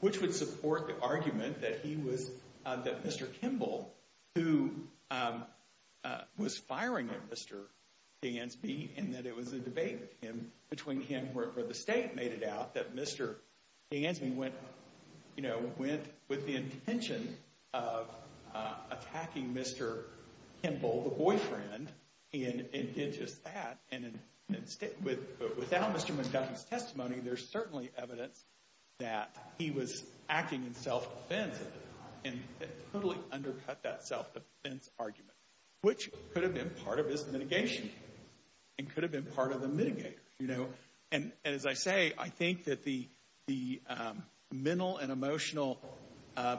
which would support the argument that he was, that Mr. Kimball, who was firing at Mr. Dansby, and that it was a debate between him, where the state made it out that Mr. Dansby went, you know, went with the intention of attacking Mr. Kimball, the boyfriend, and did just that. And instead, without Mr. McDuffie's testimony, there's certainly evidence that he was acting in self-defense, and totally undercut that self-defense argument, which could have been part of his mitigation, and could have been part of the mitigator, you know? And as I say, I think that the mental and emotional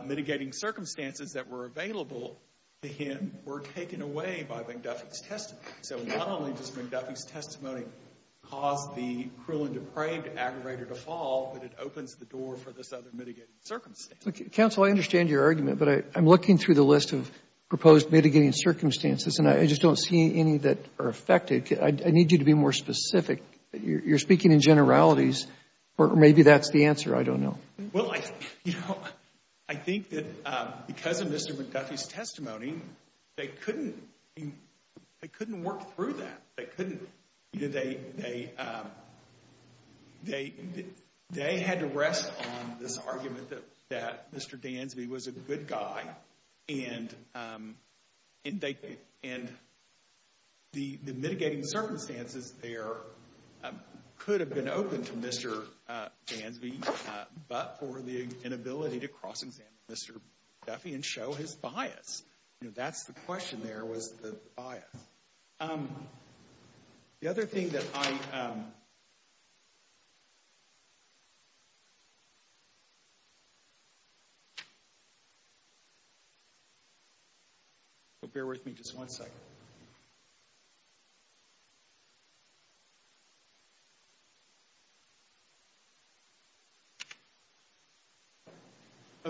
mitigating circumstances that were available to him were taken away by McDuffie's testimony. So not only does McDuffie's testimony cause the cruel and depraved aggravator to fall, but it opens the door for this other mitigating circumstance. Counsel, I understand your argument, but I'm looking through the list of proposed mitigating circumstances, and I just don't see any that are affected. I need you to be more specific. You're speaking in generalities, or maybe that's the answer. I don't know. Well, you know, I think that because of Mr. McDuffie's testimony, they couldn't work through that. They couldn't. You know, they had to rest on this argument that Mr. Dansby was a good guy, and the mitigating circumstances there could have been open to Mr. Dansby, but for the inability to cross-examine Mr. McDuffie and show his bias. You know, that's the question there, was the bias. The other thing that I—bear with me just one second—of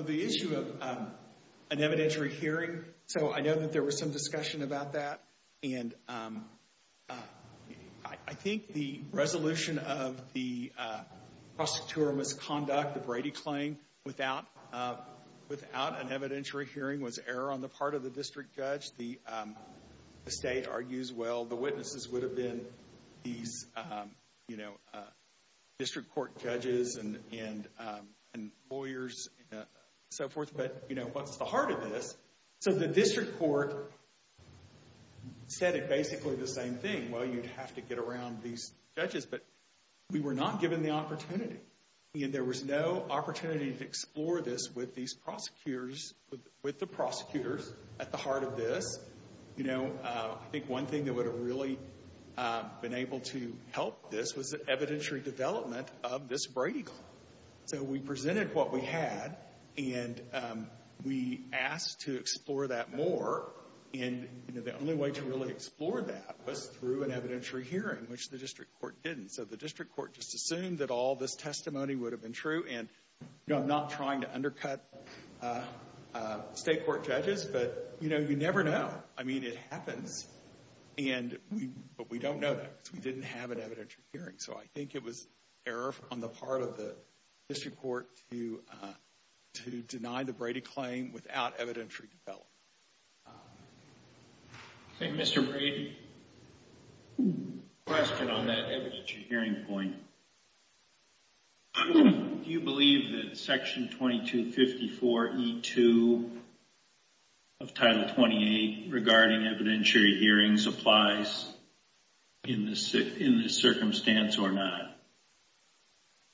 the issue of an evidentiary hearing. So I know that there was some discussion about that, and I think the resolution of the prosecutorial misconduct, the Brady claim, without an evidentiary hearing was error on the part of the district judge. The state argues, well, the witnesses would have been these, you know, district court judges and lawyers and so forth, but, you know, what's the heart of this? So the district court said basically the same thing. Well, you'd have to get around these judges, but we were not given the opportunity, and there was no opportunity to explore this with these prosecutors, with the prosecutors at the heart of this. You know, I think one thing that would have really been able to help this was the evidentiary development of this Brady claim. So we presented what we had, and we asked to explore that more, and, you know, the only way to really explore that was through an evidentiary hearing, which the district court didn't. So the district court just assumed that all this testimony would have been true, and, you know, I'm not trying to undercut state court judges, but, you know, you never know. I mean, it happens, but we don't know that because we didn't have an evidentiary hearing. So I think it was error on the part of the district court to deny the Brady claim without evidentiary development. Thank you, Mr. Brady. Question on that evidentiary hearing point. Do you believe that Section 2254E2 of Title 28 regarding evidentiary hearings applies in this circumstance or not,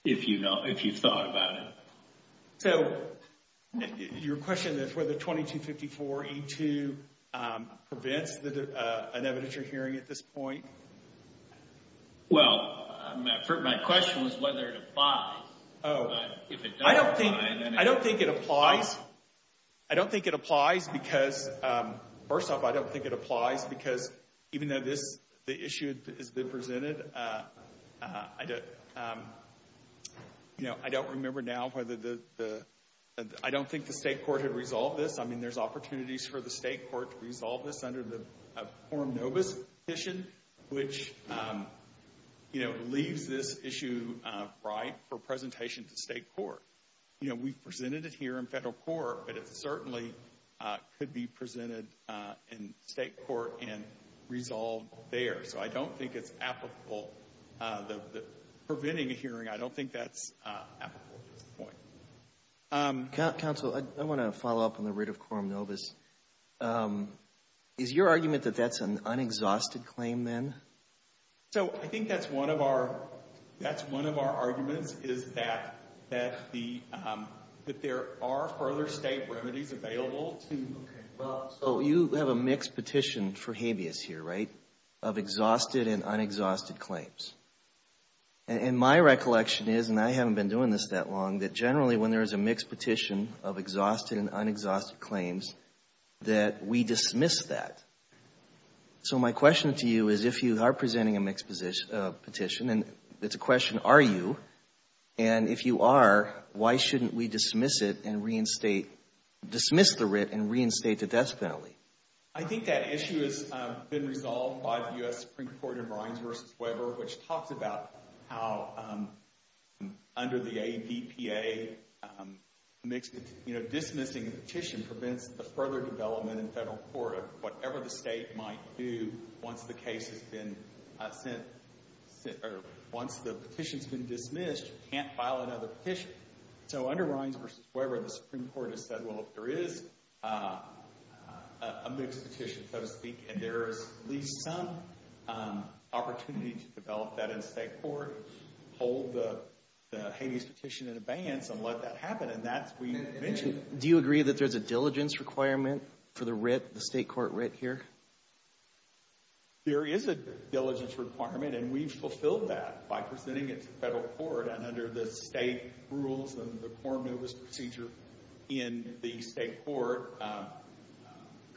if you've thought about it? So your question is whether 2254E2 prevents an evidentiary hearing at this point? Well, my question was whether it applies. Oh, I don't think, I don't think it applies. I don't think it applies because, first off, I don't think it applies because even though this, the issue has been presented, you know, I don't remember now whether the, I don't think the state court had resolved this. I mean, there's opportunities for the state court to resolve this under the Coram Novus Petition, which, you know, leaves this issue right for presentation to state court. You know, we've presented it here in federal court, but it certainly could be presented in state court and resolved there. So I don't think it's applicable, preventing a hearing, I don't think that's applicable at this point. Counsel, I want to follow up on the writ of Coram Novus. Is your argument that that's an unexhausted claim then? So I think that's one of our, that's one of our arguments is that, that the, that there are further state remedies available to. Okay, well, so you have a mixed petition for habeas here, right? Of exhausted and unexhausted claims. And my recollection is, and I haven't been doing this that long, that generally when there's a mixed petition of exhausted and unexhausted claims, that we dismiss that. So my question to you is, if you are presenting a mixed petition, and it's a question, are you? And if you are, why shouldn't we dismiss it and reinstate, dismiss the writ and reinstate the death penalty? I think that issue has been resolved by the U.S. Supreme Court in Rines v. Weber, which talks about how under the ADPA, you know, dismissing a petition prevents the further development in federal court of whatever the state might do once the case has been sent, or once the petition's been dismissed, you can't file another petition. So under Rines v. Weber, the Supreme Court has said, well, if there is a mixed petition, so to speak, and there is at least some opportunity to develop that in state court, hold the habeas petition in abeyance, and let that happen, and that's what you mentioned. Do you agree that there's a diligence requirement for the writ, the state court writ here? There is a diligence requirement, and we've fulfilled that by presenting it to federal court, and under the state rules and the core notice procedure in the state court,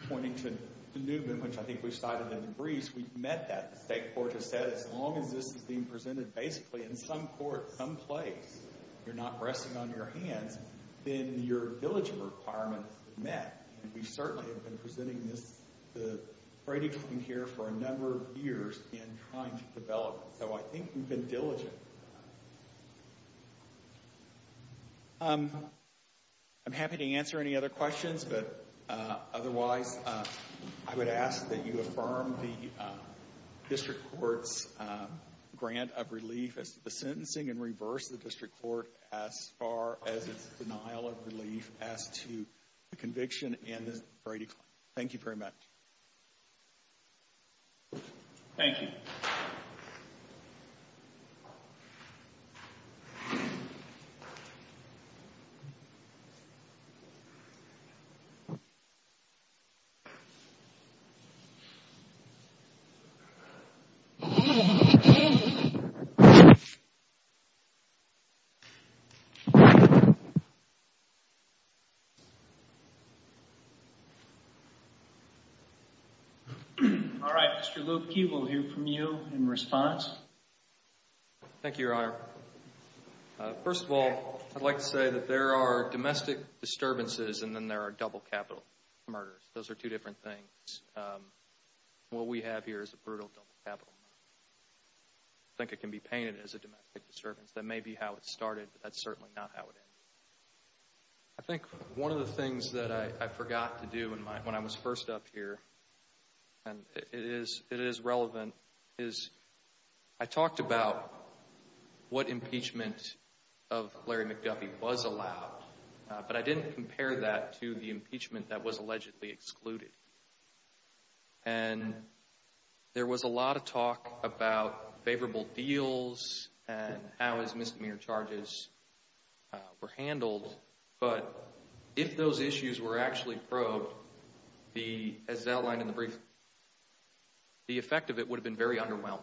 pointing to the movement, which I think we cited in the briefs, we've met that. The state court has said as long as this is being presented basically in some court, some place, you're not resting on your hands, then your diligence requirement is met, and we certainly have been presenting this, the writing here for a number of years in trying to develop it. So I think we've been diligent. Okay. I'm happy to answer any other questions, but otherwise, I would ask that you affirm the district court's grant of relief as to the sentencing and reverse the district court as far as its denial of relief as to the conviction and the Brady claim. Thank you very much. Thank you. Thank you. All right, Mr. Luebke, we'll hear from you in response. Thank you, Your Honor. First of all, I'd like to say that there are domestic disturbances and then there are double capital murders. Those are two different things. What we have here is a brutal double capital murder. I think it can be painted as a domestic disturbance. That may be how it started, but that's certainly not how it ended. I think one of the things that I forgot to do when I was first up here, and it is relevant, is I talked about what impeachment of Larry McGuffey was allowed, but I didn't compare that to the impeachment that was allegedly excluded. And there was a lot of talk about favorable deals and how his misdemeanor charges were handled. But if those issues were actually probed, as outlined in the brief, the effect of it would have been very underwhelming.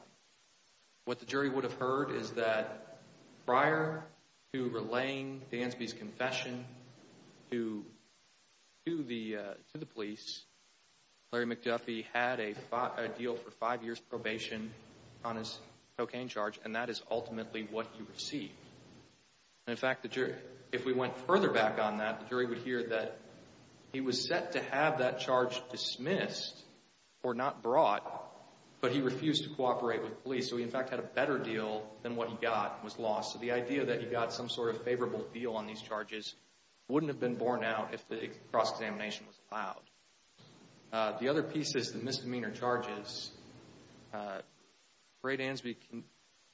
What the jury would have heard is that prior to relaying Gansby's confession to the police, Larry McGuffey had a deal for five years probation on his cocaine charge, and that is ultimately what he received. In fact, if we went further back on that, the jury would hear that he was set to have that charge dismissed or not brought, but he refused to cooperate with police. So he in fact had a better deal than what he got and was lost. So the idea that he got some sort of favorable deal on these charges wouldn't have been borne out if the cross-examination was allowed. The other pieces, the misdemeanor charges, Brade Gansby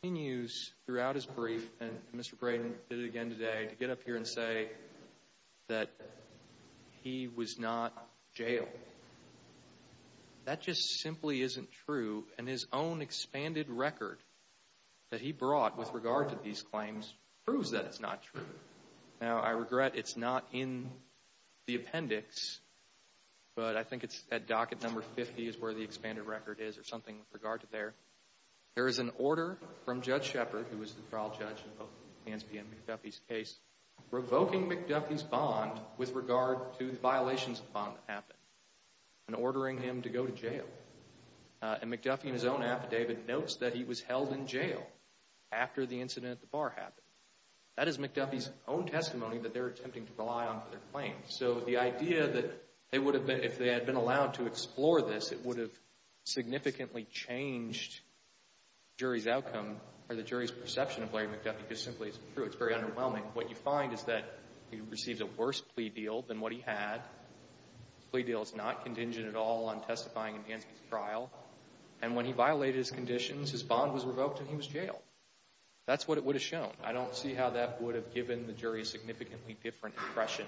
continues throughout his brief, and Mr. Braden did it again today, to get up here and say that he was not jailed. That just simply isn't true, and his own expanded record that he brought with regard to these claims proves that it's not true. Now, I regret it's not in the appendix, but I think it's at docket number 50 is where the expanded record is or something with regard to there. There is an order from Judge Shepard, who was the trial judge in both Gansby and McGuffey's case, revoking McGuffey's bond with regard to the violations of the bond that happened and ordering him to go to jail. And McGuffey in his own affidavit notes that he was held in jail after the incident at the bar happened. That is McGuffey's own testimony that they're attempting to rely on for their claims. So the idea that they would have been, if they had been allowed to explore this, it would have significantly changed the jury's outcome or the jury's perception of Larry McGuffey just simply isn't true. It's very underwhelming. What you find is that he received a worse plea deal than what he had. The plea deal is not contingent at all on testifying in Gansby's trial, and when he violated his conditions, his bond was revoked and he was jailed. That's what it would have shown. I don't see how that would have given the jury a significantly different impression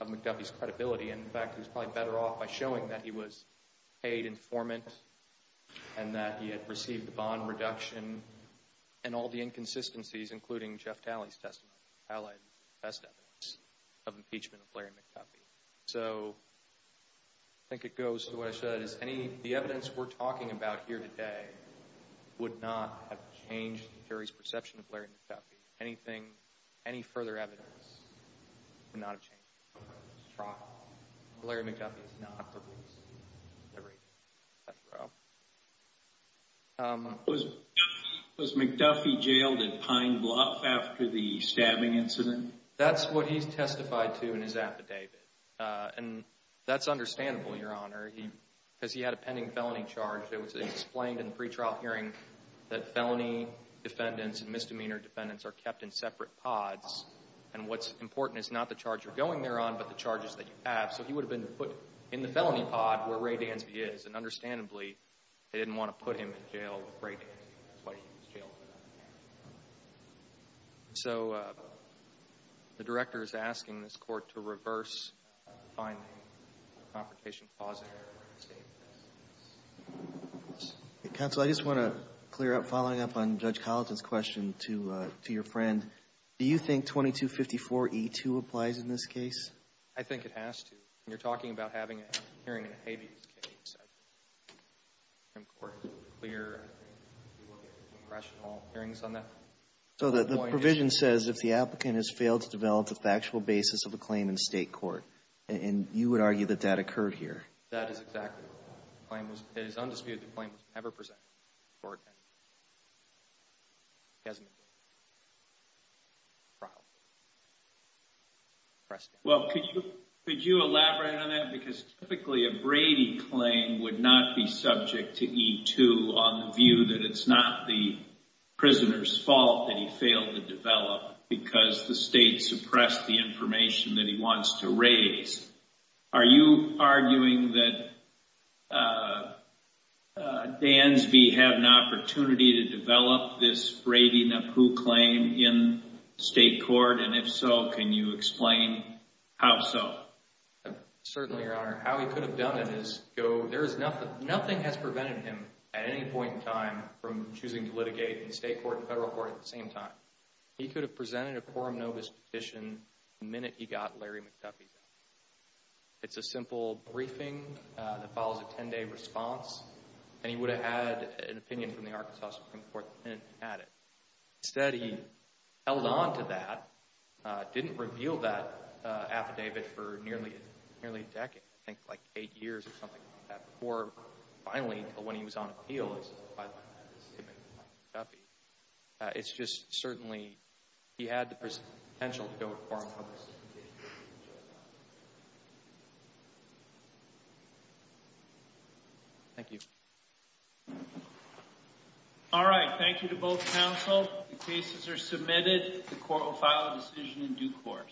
of McGuffey's credibility. And in fact, he was probably better off by showing that he was paid informant and that he had received the bond reduction and all the inconsistencies, including Jeff Talley's testimony, Talley's best evidence of impeachment of Larry McGuffey. So I think it goes to what I we're talking about here today would not have changed the jury's perception of Larry McGuffey. Anything, any further evidence would not have changed. Larry McGuffey is not the reason. Was McGuffey jailed at Pine Bluff after the stabbing incident? That's what he's testified to in his affidavit. And that's understandable, Your Honor, because he had a pending felony charge that was explained in the pretrial hearing that felony defendants and misdemeanor defendants are kept in separate pods. And what's important is not the charge you're going there on, but the charges that you have. So he would have been put in the felony pod where Ray Gansby is. And understandably, they didn't want to put him in jail with Ray Gansby. That's why he was jailed. So the director is asking this court to reverse finding the confrontation positive. Counsel, I just want to clear up, following up on Judge Colleton's question to your friend. Do you think 2254E2 applies in this case? I think it has to. You're talking about having a hearing in a habeas case. So the provision says if the applicant has failed to develop the factual basis of the claim in state court, and you would argue that that occurred here? That is exactly right. It is undisputed that the claim was never presented. Well, could you elaborate on that? Because typically a Brady claim would not be subject to 2254E2 on the view that it's not the prisoner's fault that he failed to develop because the state suppressed the information that he wants to raise. Are you arguing that Gansby had an opportunity to develop this Brady-Napoo claim in state court? And if so, can you explain how so? Certainly, Your Honor. How he could have done it is, nothing has prevented him at any point in time from choosing to litigate in state court and federal court at the same time. He could have presented a quorum novus petition the minute he got Larry McDuffie's affidavit. It's a simple briefing that follows a 10-day response, and he would have had an opinion from the Arkansas Supreme Court the minute he had it. Instead, he held on to that, didn't reveal that affidavit for nearly a decade, I think, like eight years or something like that, before finally, when he was on appeal, had to say to McDuffie. It's just, certainly, he had the potential to go to quorum novus. Thank you. All right. Thank you to both counsel. The cases are submitted. The court will file a decision in due course.